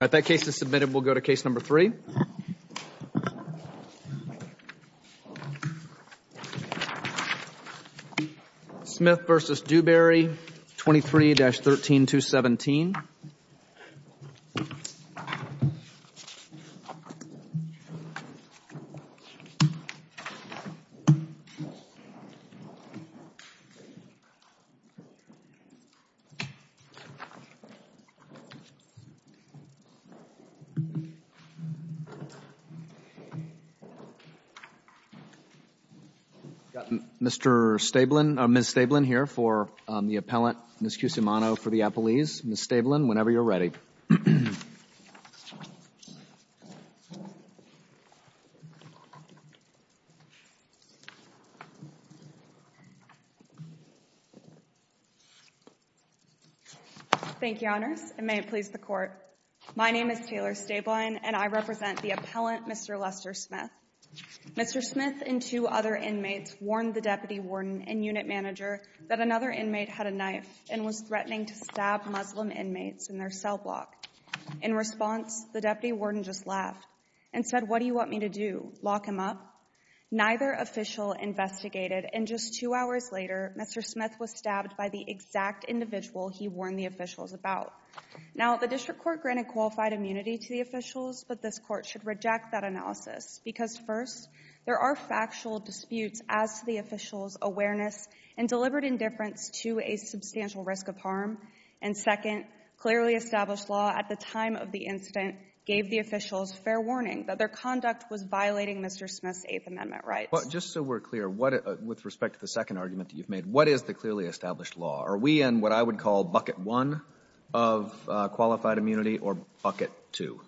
All right, that case is submitted. We'll go to case number three. Smith v. Dewberry, 23-13217. Mr. Stablen, Ms. Stablen here for the appellant, Ms. Cusimano for the appellees. Ms. Stablen, whenever you're ready. Thank you, Your Honor. Thank you, Honors, and may it please the Court. My name is Taylor Stablen, and I represent the appellant, Mr. Lester Smith. Mr. Smith and two other inmates warned the deputy warden and unit manager that another inmate had a knife and was threatening to stab Muslim inmates in their cell block. In response, the deputy warden just laughed and said, what do you want me to do, lock him up? Neither official investigated, and just two hours later, Mr. Smith was stabbed by the exact individual he warned the officials about. Now, the district court granted qualified immunity to the officials, but this court should reject that analysis because, first, there are factual disputes as to the officials' awareness and deliberate indifference to a substantial risk of harm. And second, clearly established law at the time of the incident gave the officials fair warning that their conduct was violating Mr. Smith's Eighth Amendment rights. But just so we're clear, what — with respect to the second argument that you've made, what is the clearly established law? Are we in what I would call bucket one of qualified immunity or bucket two?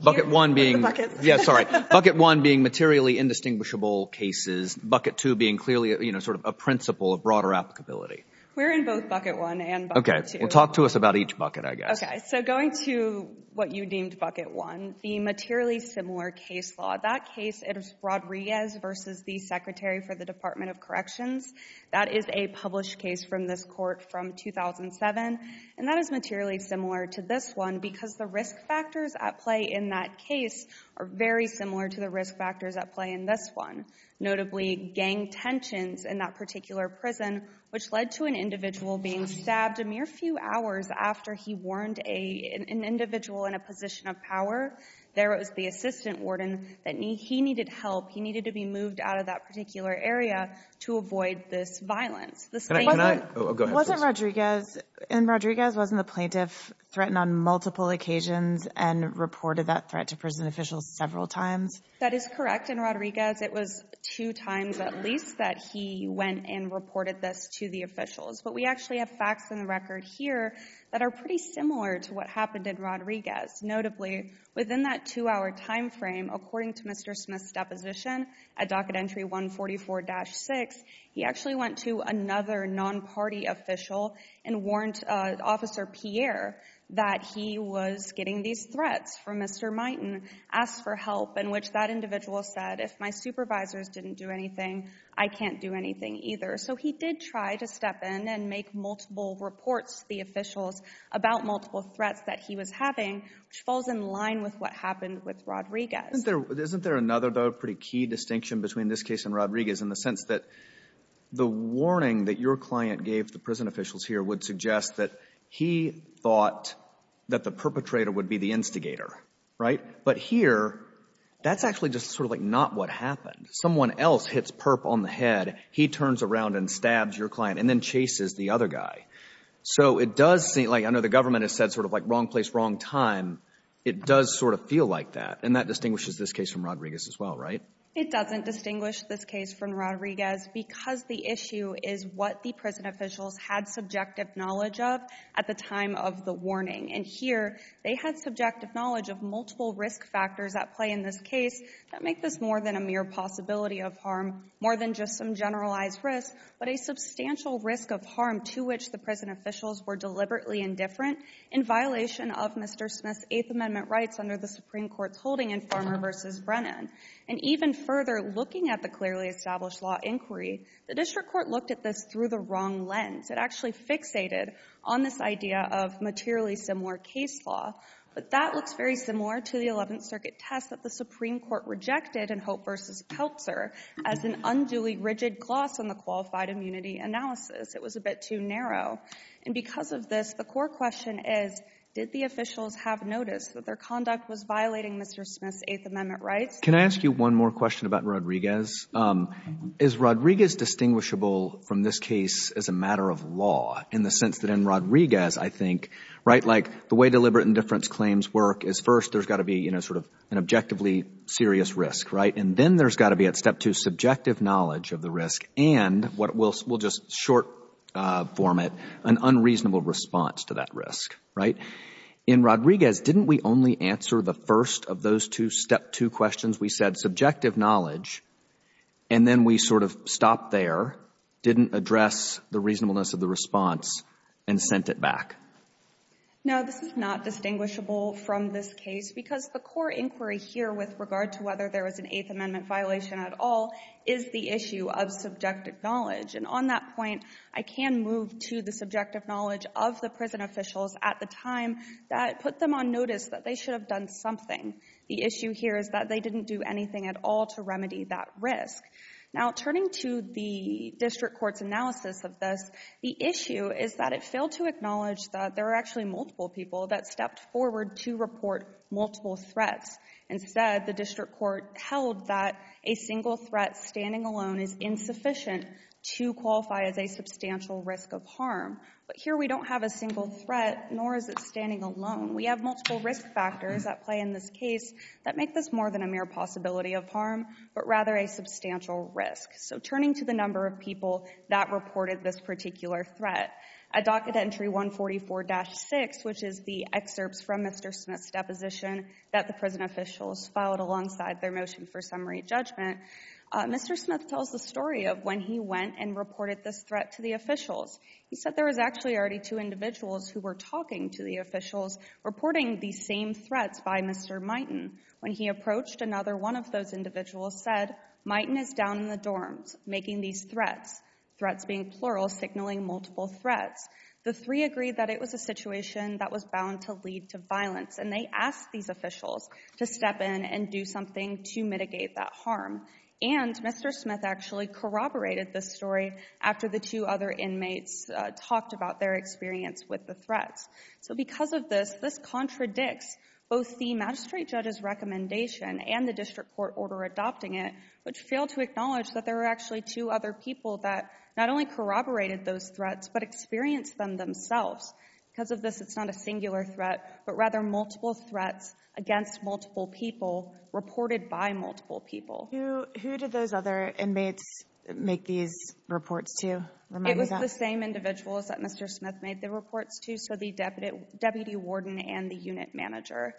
Bucket one being — Bucket. Yeah, sorry. Bucket one being materially indistinguishable cases, bucket two being clearly, you know, sort of a principle of broader applicability. We're in both bucket one and bucket two. Okay. Well, talk to us about each bucket, I guess. Okay. So going to what you deemed bucket one, the materially similar case law, that case is Rodriguez v. The Secretary for the Department of Corrections. That is a published case from this Court from 2007. And that is materially similar to this one because the risk factors at play in that case are very similar to the risk factors at play in this one, notably gang tensions in that particular prison, which led to an individual being stabbed a mere few hours after he warned an individual in a position of power. There was the assistant warden. He needed help. He needed to be moved out of that particular area to avoid this violence. Can I — Go ahead. Wasn't Rodriguez — and Rodriguez wasn't the plaintiff — threatened on multiple occasions and reported that threat to prison officials several times? That is correct. In Rodriguez, it was two times at least that he went and reported this to the officials. But we actually have facts in the record here that are pretty similar to what happened in Within that two-hour time frame, according to Mr. Smith's deposition at Docket Entry 144-6, he actually went to another non-party official and warned Officer Pierre that he was getting these threats from Mr. Miten, asked for help, in which that individual said, if my supervisors didn't do anything, I can't do anything either. So he did try to step in and make multiple reports to the officials about multiple threats that he was having, which falls in line with what happened with Rodriguez. Isn't there another, though, pretty key distinction between this case and Rodriguez in the sense that the warning that your client gave the prison officials here would suggest that he thought that the perpetrator would be the instigator, right? But here, that's actually just sort of like not what happened. Someone else hits perp on the head. He turns around and stabs your client and then chases the other guy. So it does seem like, I know the government has said sort of like wrong place, wrong time. It does sort of feel like that. And that distinguishes this case from Rodriguez as well, right? It doesn't distinguish this case from Rodriguez because the issue is what the prison officials had subjective knowledge of at the time of the warning. And here, they had subjective knowledge of multiple risk factors at play in this case that make this more than a mere possibility of harm, more than just some generalized risk, but a substantial risk of harm to which the prison officials were deliberately indifferent in violation of Mr. Smith's Eighth Amendment rights under the Supreme Court's holding in Farmer v. Brennan. And even further, looking at the clearly established law inquiry, the district court looked at this through the wrong lens. It actually fixated on this idea of materially similar case law. But that looks very similar to the Eleventh Circuit test that the Supreme Court rejected in Hope v. Keltser as an unduly rigid gloss on the qualified immunity analysis. It was a bit too narrow. And because of this, the core question is, did the officials have noticed that their conduct was violating Mr. Smith's Eighth Amendment rights? Can I ask you one more question about Rodriguez? Is Rodriguez distinguishable from this case as a matter of law in the sense that in Rodriguez, I think, right, like the way deliberate indifference claims work is first there's got to be, you know, sort of an objectively serious risk, right? And then there's got to be at Step 2 subjective knowledge of the risk and what we'll just short-form it, an unreasonable response to that risk, right? In Rodriguez, didn't we only answer the first of those two Step 2 questions? We said subjective knowledge, and then we sort of stopped there, didn't address the reasonableness of the response, and sent it back. No, this is not distinguishable from this case because the core inquiry here with regard to whether there was an Eighth Amendment violation at all is the issue of subjective knowledge, and on that point, I can move to the subjective knowledge of the prison officials at the time that put them on notice that they should have done something. The issue here is that they didn't do anything at all to remedy that risk. Now, turning to the district court's analysis of this, the issue is that it failed to acknowledge that there are actually multiple people that stepped forward to report multiple threats. Instead, the district court held that a single threat standing alone is insufficient to qualify as a substantial risk of harm. But here we don't have a single threat, nor is it standing alone. We have multiple risk factors at play in this case that make this more than a mere possibility of harm, but rather a substantial risk. So turning to the number of people that reported this particular threat, at docket entry 144-6, which is the excerpts from Mr. Smith's deposition that the prison officials filed alongside their motion for summary judgment, Mr. Smith tells the story of when he went and reported this threat to the officials. He said there was actually already two individuals who were talking to the officials reporting these same threats by Mr. Miten. When he approached another one of those individuals said, Miten is down in the dorms making these threats. Threats being plural, signaling multiple threats. The three agreed that it was a situation that was bound to lead to violence, and they asked these officials to step in and do something to mitigate that harm. And Mr. Smith actually corroborated this story after the two other inmates talked about their experience with the threats. So because of this, this contradicts both the magistrate judge's recommendation and the district court order adopting it, which failed to acknowledge that there were actually two other people that not only corroborated those threats, but experienced them themselves. Because of this, it's not a singular threat, but rather multiple threats against multiple people reported by multiple people. Who did those other inmates make these reports to? It was the same individuals that Mr. Smith made the reports to, so the deputy warden and the unit manager.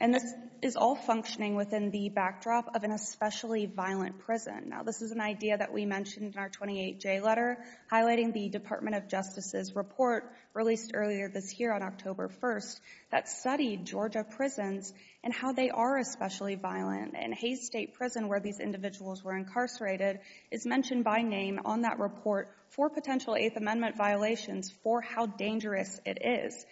And this is all functioning within the backdrop of an especially violent prison. Now this is an idea that we mentioned in our 28J letter, highlighting the Department of Justice's report released earlier this year on October 1st that studied Georgia prisons and how they are especially violent. And Hayes State Prison, where these individuals were incarcerated, is mentioned by name on that report for potential Eighth Amendment violations for how dangerous it is.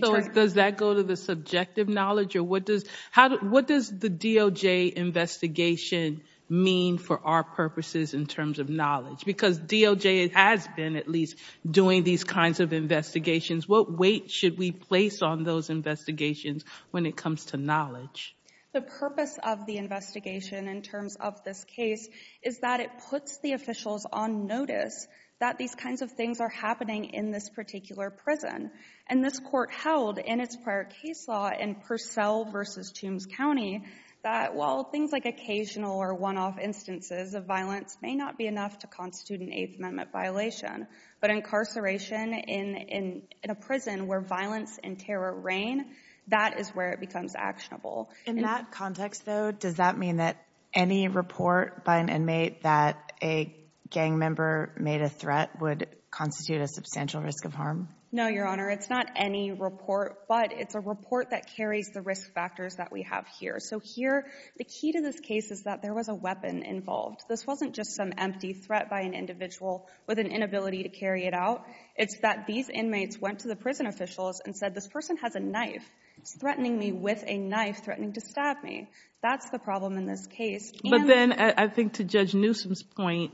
So does that go to the subjective knowledge? Or what does the DOJ investigation mean for our purposes in terms of knowledge? Because DOJ has been, at least, doing these kinds of investigations. What weight should we place on those investigations when it comes to knowledge? The purpose of the investigation in terms of this case is that it puts the officials on notice that these kinds of things are happening in this particular prison. And this court held in its prior case law in Purcell v. Toombs County that while things like occasional or one-off instances of violence may not be enough to constitute an Eighth Amendment violation, but incarceration in a prison where violence and terror reign, that is where it becomes actionable. In that context, though, does that mean that any report by an inmate that a gang member made a threat would constitute a substantial risk of harm? No, Your Honor. It's not any report, but it's a report that carries the risk factors that we have here. So here, the key to this case is that there was a weapon involved. This wasn't just some empty threat by an individual with an inability to carry it out. It's that these inmates went to the prison officials and said, this person has a knife. He's threatening me with a knife threatening to stab me. That's the problem in this case. But then I think to Judge Newsom's point,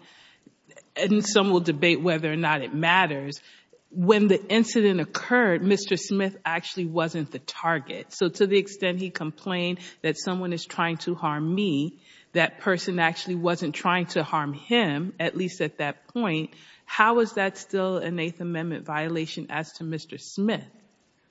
and some will debate whether or not it matters, when the incident occurred, Mr. Smith actually wasn't the target. So to the extent he complained that someone is trying to harm me, that person actually wasn't trying to harm him, at least at that point, how is that still an Eighth Amendment violation as to Mr. Smith?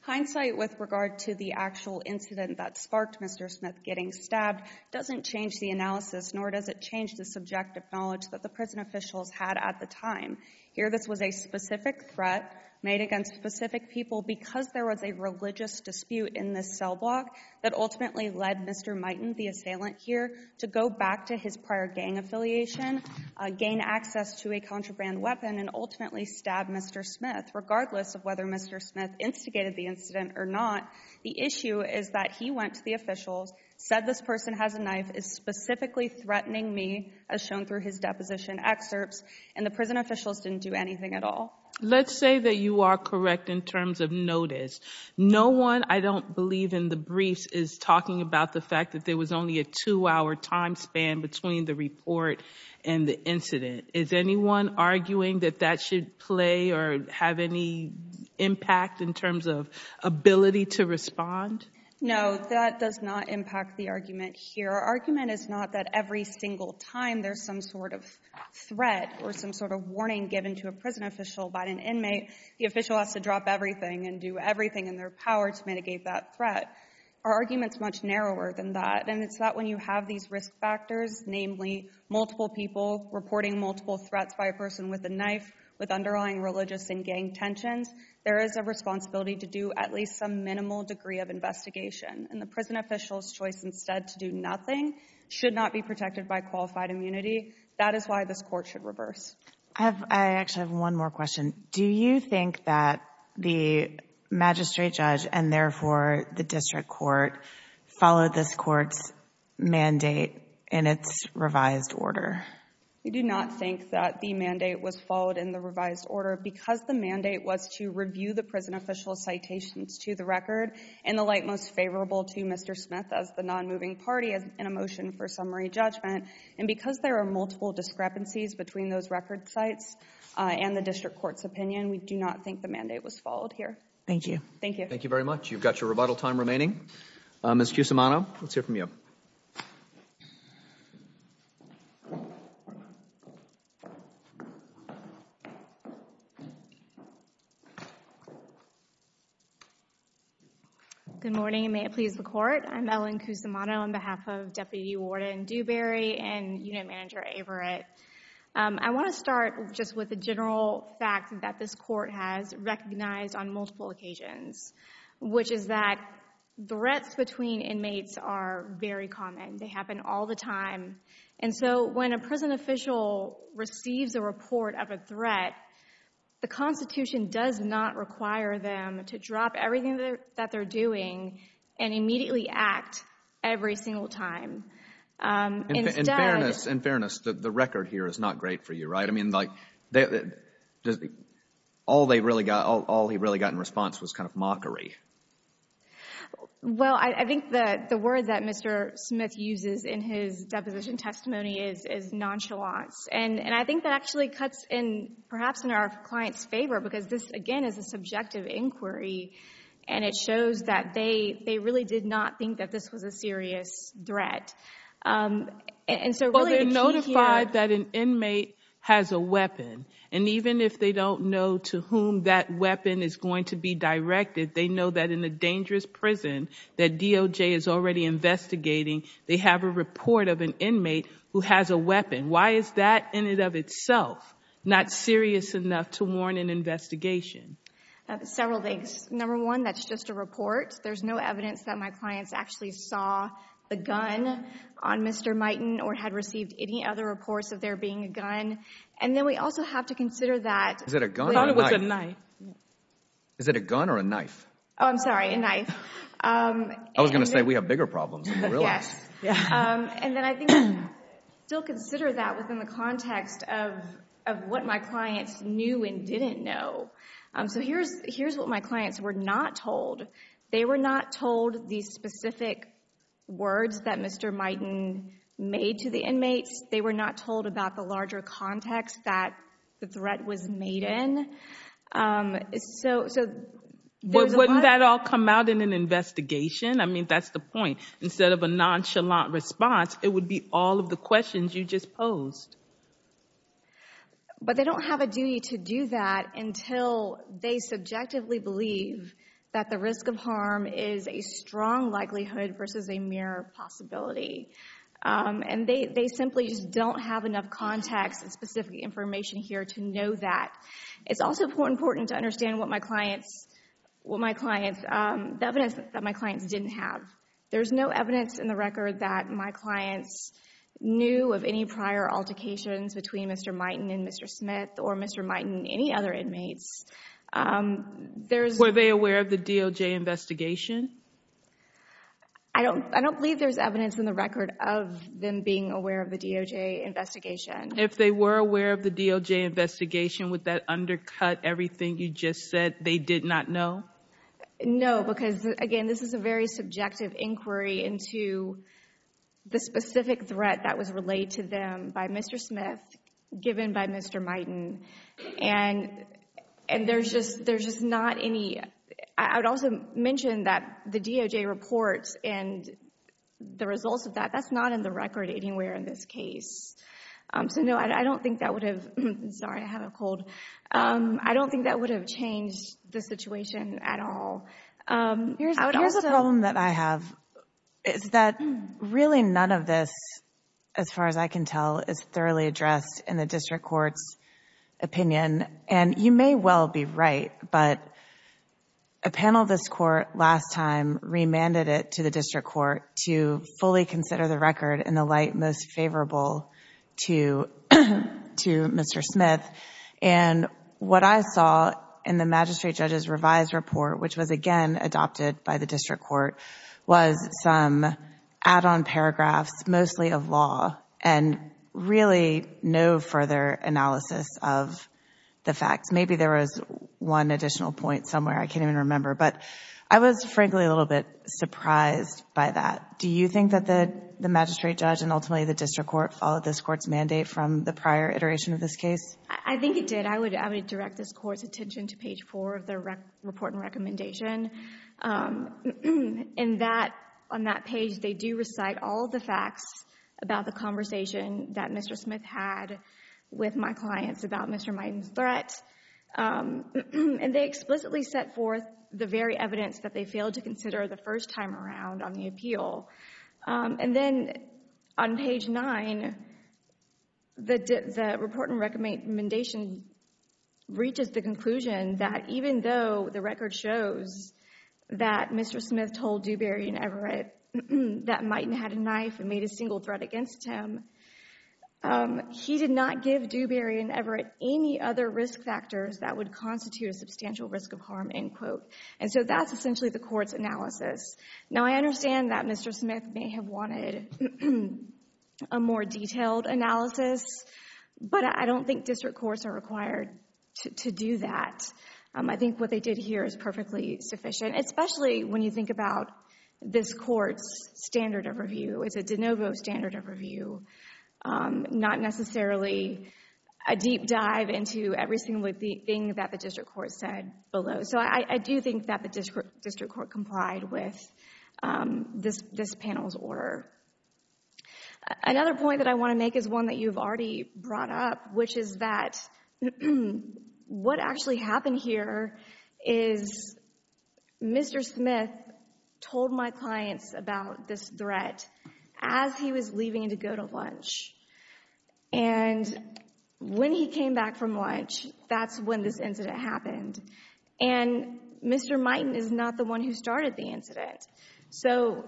Hindsight with regard to the actual incident that sparked Mr. Smith getting stabbed doesn't change the analysis, nor does it change the subjective knowledge that the prison officials had at the time. Here, this was a specific threat made against specific people because there was a religious dispute in this cell block that ultimately led Mr. Miten, the assailant here, to go back to his prior gang affiliation, gain access to a contraband weapon, and ultimately stab Mr. Smith. Regardless of whether Mr. Smith instigated the incident or not, the issue is that he went to the officials, said this person has a knife, is specifically threatening me, as shown through his deposition excerpts, and the prison officials didn't do anything at all. Let's say that you are correct in terms of notice. No one, I don't believe, in the briefs is talking about the fact that there was only a two-hour time span between the report and the incident. Is anyone arguing that that should play or have any impact in terms of ability to respond? No, that does not impact the argument here. Our argument is not that every single time there's some sort of threat or some sort of warning given to a prison official by an inmate, the official has to drop everything and do everything in their power to mitigate that threat. Our argument is much narrower than that, and it's that when you have these risk factors, namely multiple people reporting multiple threats by a person with a knife, with underlying religious and gang tensions, there is a responsibility to do at least some minimal degree of investigation. And the prison official's choice instead to do nothing should not be protected by qualified immunity. That is why this court should reverse. I actually have one more question. Do you think that the magistrate judge, and therefore the district court, followed this court's mandate in its revised order? We do not think that the mandate was followed in the revised order because the mandate was to review the prison official's citations to the record in the light most favorable to Mr. Smith as the non-moving party in a motion for summary judgment. And because there are multiple discrepancies between those record sites and the district court's opinion, we do not think the mandate was followed here. Thank you. Thank you very much. You've got your rebuttal time remaining. Ms. Cusimano, let's hear from you. Good morning, and may it please the Court. I'm Ellen Cusimano on behalf of Deputy Warden Dewberry and Unit Manager Averitt. I want to start just with the general fact that this court has recognized on multiple occasions, which is that threats between inmates are very common. They happen all the time. And so when a prison official receives a report of a threat, the Constitution does not require them to drop everything that they're doing and immediately act every single time. In fairness, the record here is not great for you, right? I mean, like, all they really got, all he really got in response was kind of mockery. Well, I think that the word that Mr. Smith uses in his deposition testimony is nonchalance. And I think that actually cuts in, perhaps in our client's favor, because this, again, is a subjective inquiry, and it shows that they really did not think that this was a serious threat. And so really the key here... But they're notified that an inmate has a weapon, and even if they don't know to whom that weapon is going to be directed, they know that in a dangerous prison that DOJ is already investigating, they have a report of an inmate who has a weapon. Why is that, in and of itself, not serious enough to warn an investigation? Several things. Number one, that's just a report. There's no evidence that my clients actually saw a gun on Mr. Mighton or had received any other reports of there being a gun. And then we also have to consider that... Is it a gun or a knife? Is it a gun or a knife? Oh, I'm sorry, a knife. I was going to say we have bigger problems than we realize. And then I think we still consider that within the context of what my clients knew and didn't know. So here's what my clients were not told. They were not told the specific words that Mr. Mighton made to the inmates. They were not told about the larger context that the threat was made in. So... Wouldn't that all come out in an investigation? I mean, that's the point. Instead of a nonchalant response, it would be all of the questions you just posed. But they don't have a duty to do that until they subjectively believe that the risk of harm is a strong likelihood versus a mere possibility. And they simply just don't have enough context and specific information here to know that. It's also important to understand what my clients... What my clients... The evidence that my clients didn't have. There's no evidence in the record that my clients knew of any prior altercations between Mr. Mighton and Mr. Smith or Mr. Mighton and any other inmates. Were they aware of the DOJ investigation? I don't believe there's evidence in the record of them being aware of the DOJ investigation. If they were aware of the DOJ investigation, would that undercut everything you just said they did not know? No, because, again, this is a very subjective inquiry into the specific threat that was relayed to them by Mr. Smith given by Mr. Mighton. And there's just not any... I would also mention that the DOJ reports and the results of that, that's not in the record anywhere in this case. So, no, I don't think that would have... Sorry, I have a cold. I don't think that would have changed the situation at all. Here's a problem that I have is that really none of this, as far as I can tell, is thoroughly addressed in the district court's opinion. And you may well be right, but a panel of this court last time remanded it to the district court to fully consider the record in the light most favorable to Mr. Smith. And what I saw in the magistrate judge's revised report, which was again adopted by the district court, was some add-on paragraphs, mostly of law, and really no further analysis of the facts. Maybe there was one additional point somewhere. I can't even remember. But I was frankly a little bit surprised by that. Do you think that the magistrate judge and ultimately the district court followed this court's mandate from the prior iteration of this case? I think it did. I would direct this court's attention to page 4 of the report and recommendation. In that, on that page, they do recite all of the facts about the conversation that Mr. Smith had with my clients about Mr. Miden's threat. And they explicitly set forth the very evidence that they failed to consider the first time around on the appeal. And then on page 9, the report and recommendation reaches the conclusion that even though the record shows that Mr. Smith told Dewberry and Everett that Miden had a knife and made a single threat against him, he did not give Dewberry and Everett any other risk factors that would constitute a substantial risk of harm, end quote. And so that's essentially the court's analysis. Now, I understand that Mr. Smith may have wanted a more detailed analysis, but I don't think district courts are required to do that. I think what they did here is perfectly sufficient, especially when you think about this court's standard of review. It's a de novo standard of review, not necessarily a deep dive into every single thing that the district court said below. So I do think that the district court complied with this panel's order. Another point that I want to make is one that you've already brought up, which is that what actually happened here is Mr. Smith told my clients about this threat as he was leaving to go to lunch. And when he came back from lunch, that's when this incident happened. And Mr. Mighton is not the one who started the incident. So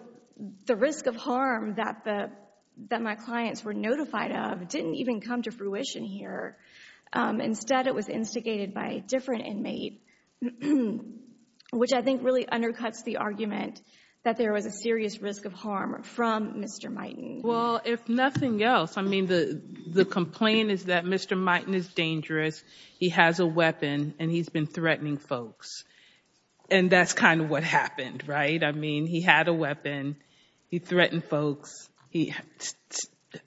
the risk of harm that my clients were notified of didn't even come to fruition here. Instead, it was instigated by a different inmate, which I think really undercuts the argument that there was a serious risk of harm from Mr. Mighton. Well, if nothing else, I mean, the complaint is that Mr. Mighton is dangerous, he has a weapon, and he's been threatening folks. And that's kind of what happened, right? I mean, he had a weapon, he threatened folks, he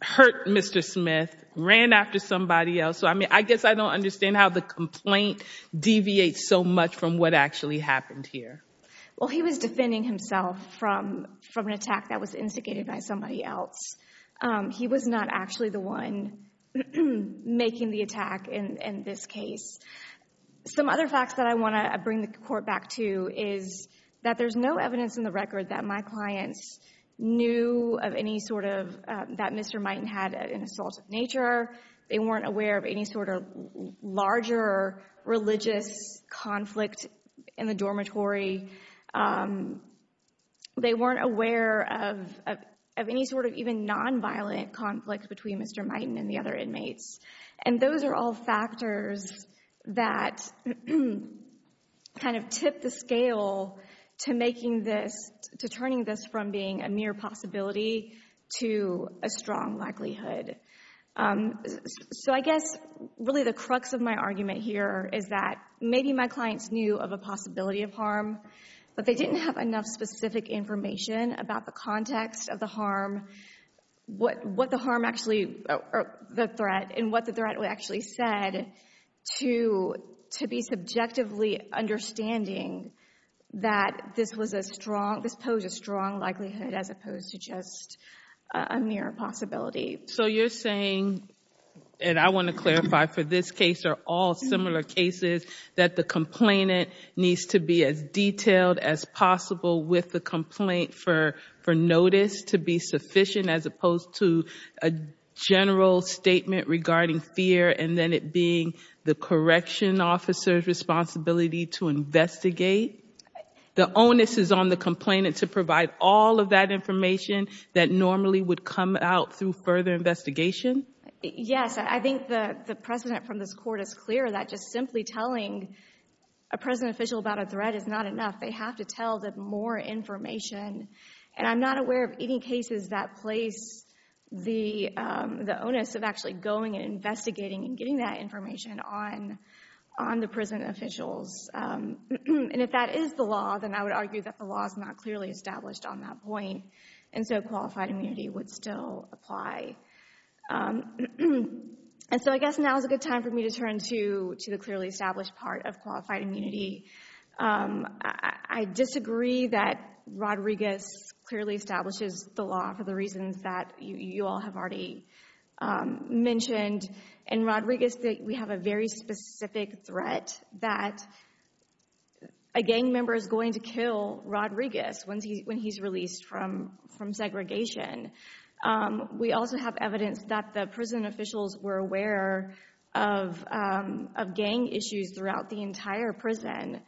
hurt Mr. Smith, ran after somebody else. So, I mean, I guess I don't understand how the complaint deviates so much from what actually happened here. Well, he was defending himself from an attack that was instigated by somebody else. He was not actually the one making the attack in this case. Some other facts that I want to bring the court back to is that there's no evidence in the record that my clients knew of any sort of—that Mr. Mighton had an assault of nature. They weren't aware of any sort of larger religious conflict in the dormitory. They weren't aware of any sort of even nonviolent conflict between Mr. Mighton and the other inmates. And those are all factors that kind of tip the scale to making this— to turning this from being a mere possibility to a strong likelihood. So I guess really the crux of my argument here is that maybe my clients knew of a possibility of harm. But they didn't have enough specific information about the context of the harm, what the harm actually—or the threat, and what the threat actually said to be subjectively understanding that this was a strong—this posed a strong likelihood as opposed to just a mere possibility. So you're saying, and I want to clarify for this case or all similar cases, that the complainant needs to be as detailed as possible with the complaint for notice to be sufficient as opposed to a general statement regarding fear and then it being the correction officer's responsibility to investigate? The onus is on the complainant to provide all of that information that normally would come out through further investigation? Yes. I think the precedent from this Court is clear that just simply telling a prison official about a threat is not enough. They have to tell them more information. And I'm not aware of any cases that place the onus of actually going and investigating and getting that information on the prison officials. And if that is the law, then I would argue that the law is not clearly established on that point. And so qualified immunity would still apply. And so I guess now is a good time for me to turn to the clearly established part of qualified immunity. I disagree that Rodriguez clearly establishes the law for the reasons that you all have already mentioned. In Rodriguez, we have a very specific threat that a gang member is going to kill Rodriguez when he's released from segregation. We also have evidence that the prison officials were aware of gang issues throughout the entire prison.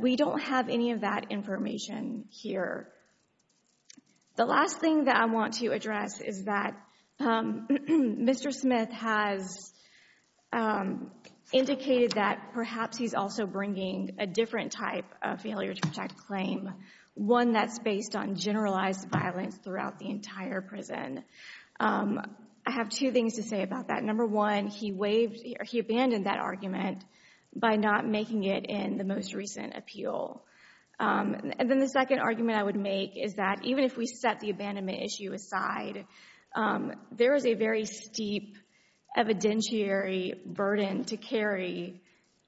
We don't have any of that information here. The last thing that I want to address is that Mr. Smith has indicated that perhaps he's also bringing a different type of failure to protect claim, one that's based on generalized violence throughout the entire prison. I have two things to say about that. Number one, he abandoned that argument by not making it in the most recent appeal. And then the second argument I would make is that even if we set the abandonment issue aside, there is a very steep evidentiary burden to carry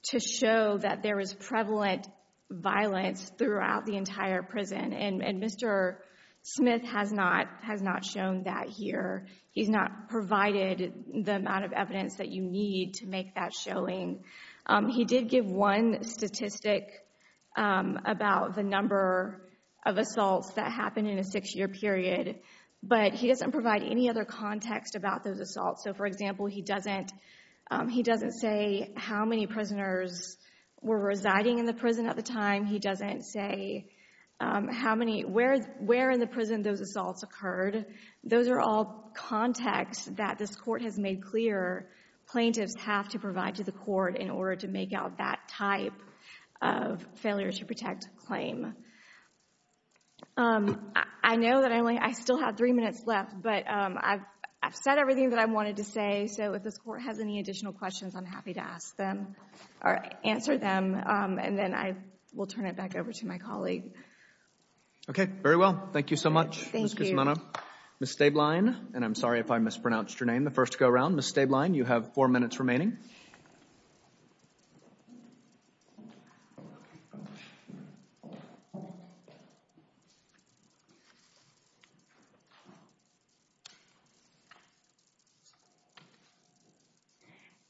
to show that there is prevalent violence throughout the entire prison, and Mr. Smith has not shown that here. He's not provided the amount of evidence that you need to make that showing. He did give one statistic about the number of assaults that happen in a six-year period, but he doesn't provide any other context about those assaults. So, for example, he doesn't say how many prisoners were residing in the prison at the time. He doesn't say where in the prison those assaults occurred. Those are all contexts that this court has made clear plaintiffs have to provide to the court in order to make out that type of failure to protect claim. I know that I still have three minutes left, but I've said everything that I wanted to say, so if this court has any additional questions, I'm happy to ask them or answer them, and then I will turn it back over to my colleague. Okay, very well. Thank you so much, Ms. Guzmano. Thank you. Ms. Stablein, and I'm sorry if I mispronounced your name, the first to go around. Ms. Stablein, you have four minutes remaining.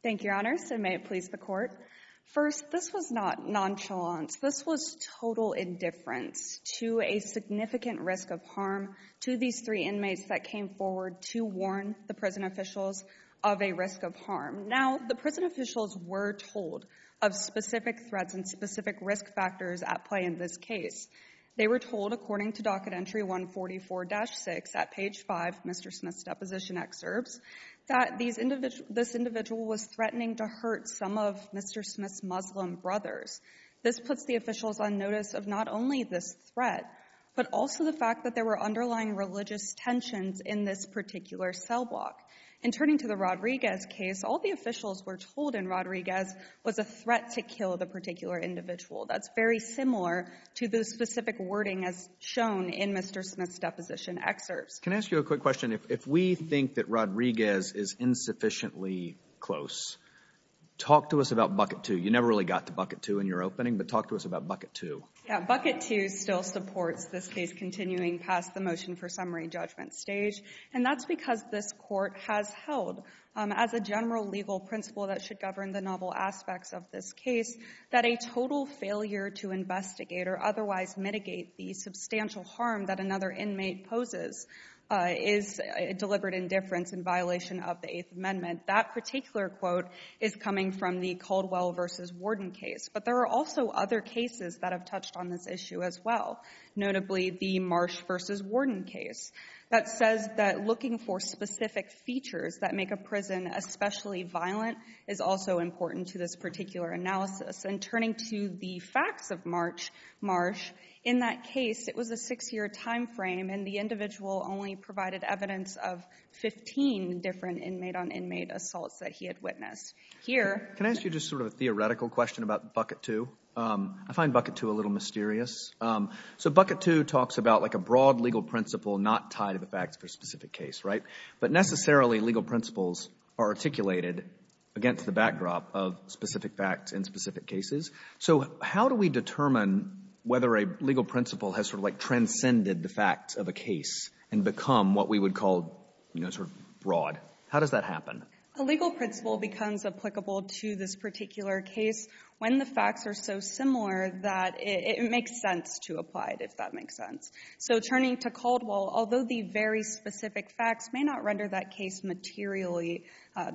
Thank you, Your Honors, and may it please the Court. First, this was not nonchalance. This was total indifference to a significant risk of harm to these three inmates that came forward to warn the prison officials of a risk of harm. Now, the prison officials were told of specific threats and specific risk factors at play in this case. They were told, according to docket entry 144-6 at page 5 of Mr. Smith's deposition excerpts, that this individual was threatening to hurt some of Mr. Smith's Muslim brothers. This puts the officials on notice of not only this threat, but also the fact that there were underlying religious tensions in this particular cell block. And turning to the Rodriguez case, all the officials were told in Rodriguez was a threat to kill the particular individual. That's very similar to the specific wording as shown in Mr. Smith's deposition excerpts. Can I ask you a quick question? If we think that Rodriguez is insufficiently close, talk to us about Bucket 2. You never really got to Bucket 2 in your opening, but talk to us about Bucket 2. Yeah. Bucket 2 still supports this case continuing past the motion for summary judgment stage, and that's because this court has held as a general legal principle that should govern the novel aspects of this case that a total failure to investigate or otherwise mitigate the substantial harm that another inmate poses is deliberate indifference in violation of the Eighth Amendment. That particular quote is coming from the Caldwell v. Warden case, but there are also other cases that have touched on this issue as well, notably the Marsh v. Warden case that says that looking for specific features that make a prison especially violent is also important to this particular analysis. And turning to the facts of Marsh, in that case it was a six-year time frame and the individual only provided evidence of 15 different inmate-on-inmate assaults that he had witnessed. Can I ask you just sort of a theoretical question about Bucket 2? I find Bucket 2 a little mysterious. So Bucket 2 talks about like a broad legal principle not tied to the facts of a specific case, right? But necessarily legal principles are articulated against the backdrop of specific facts in specific cases. So how do we determine whether a legal principle has sort of like transcended the facts of a case and become what we would call, you know, sort of broad? How does that happen? A legal principle becomes applicable to this particular case when the facts are so similar that it makes sense to apply it, if that makes sense. So turning to Caldwell, although the very specific facts may not render that case materially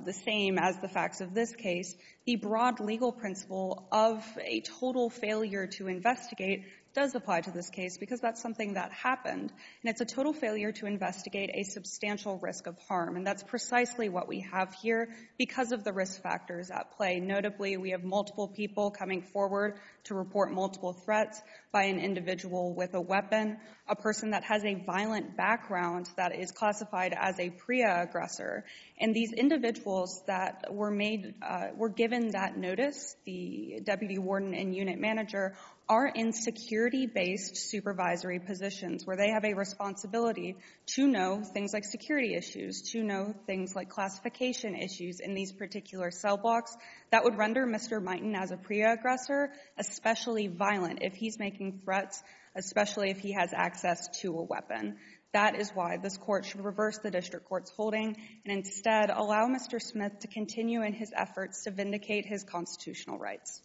the same as the facts of this case, the broad legal principle of a total failure to investigate does apply to this case because that's something that happened. And it's a total failure to investigate a substantial risk of harm. And that's precisely what we have here because of the risk factors at play. Notably, we have multiple people coming forward to report multiple threats by an individual with a weapon, a person that has a violent background that is classified as a PREA aggressor. And these individuals that were given that notice, the deputy warden and unit manager, are in security-based supervisory positions where they have a responsibility to know things like security issues, to know things like classification issues in these particular cell blocks. That would render Mr. Mighton as a PREA aggressor, especially violent, if he's making threats, especially if he has access to a weapon. That is why this Court should reverse the district court's holding and instead allow Mr. Smith to continue in his efforts to vindicate his constitutional rights.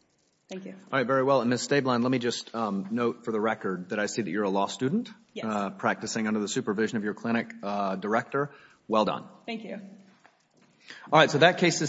Thank you. All right. Very well. And, Ms. Stablein, let me just note for the record that I see that you're a law student practicing under the supervision of your clinic director. Well done. Thank you. All right. So that case is settled.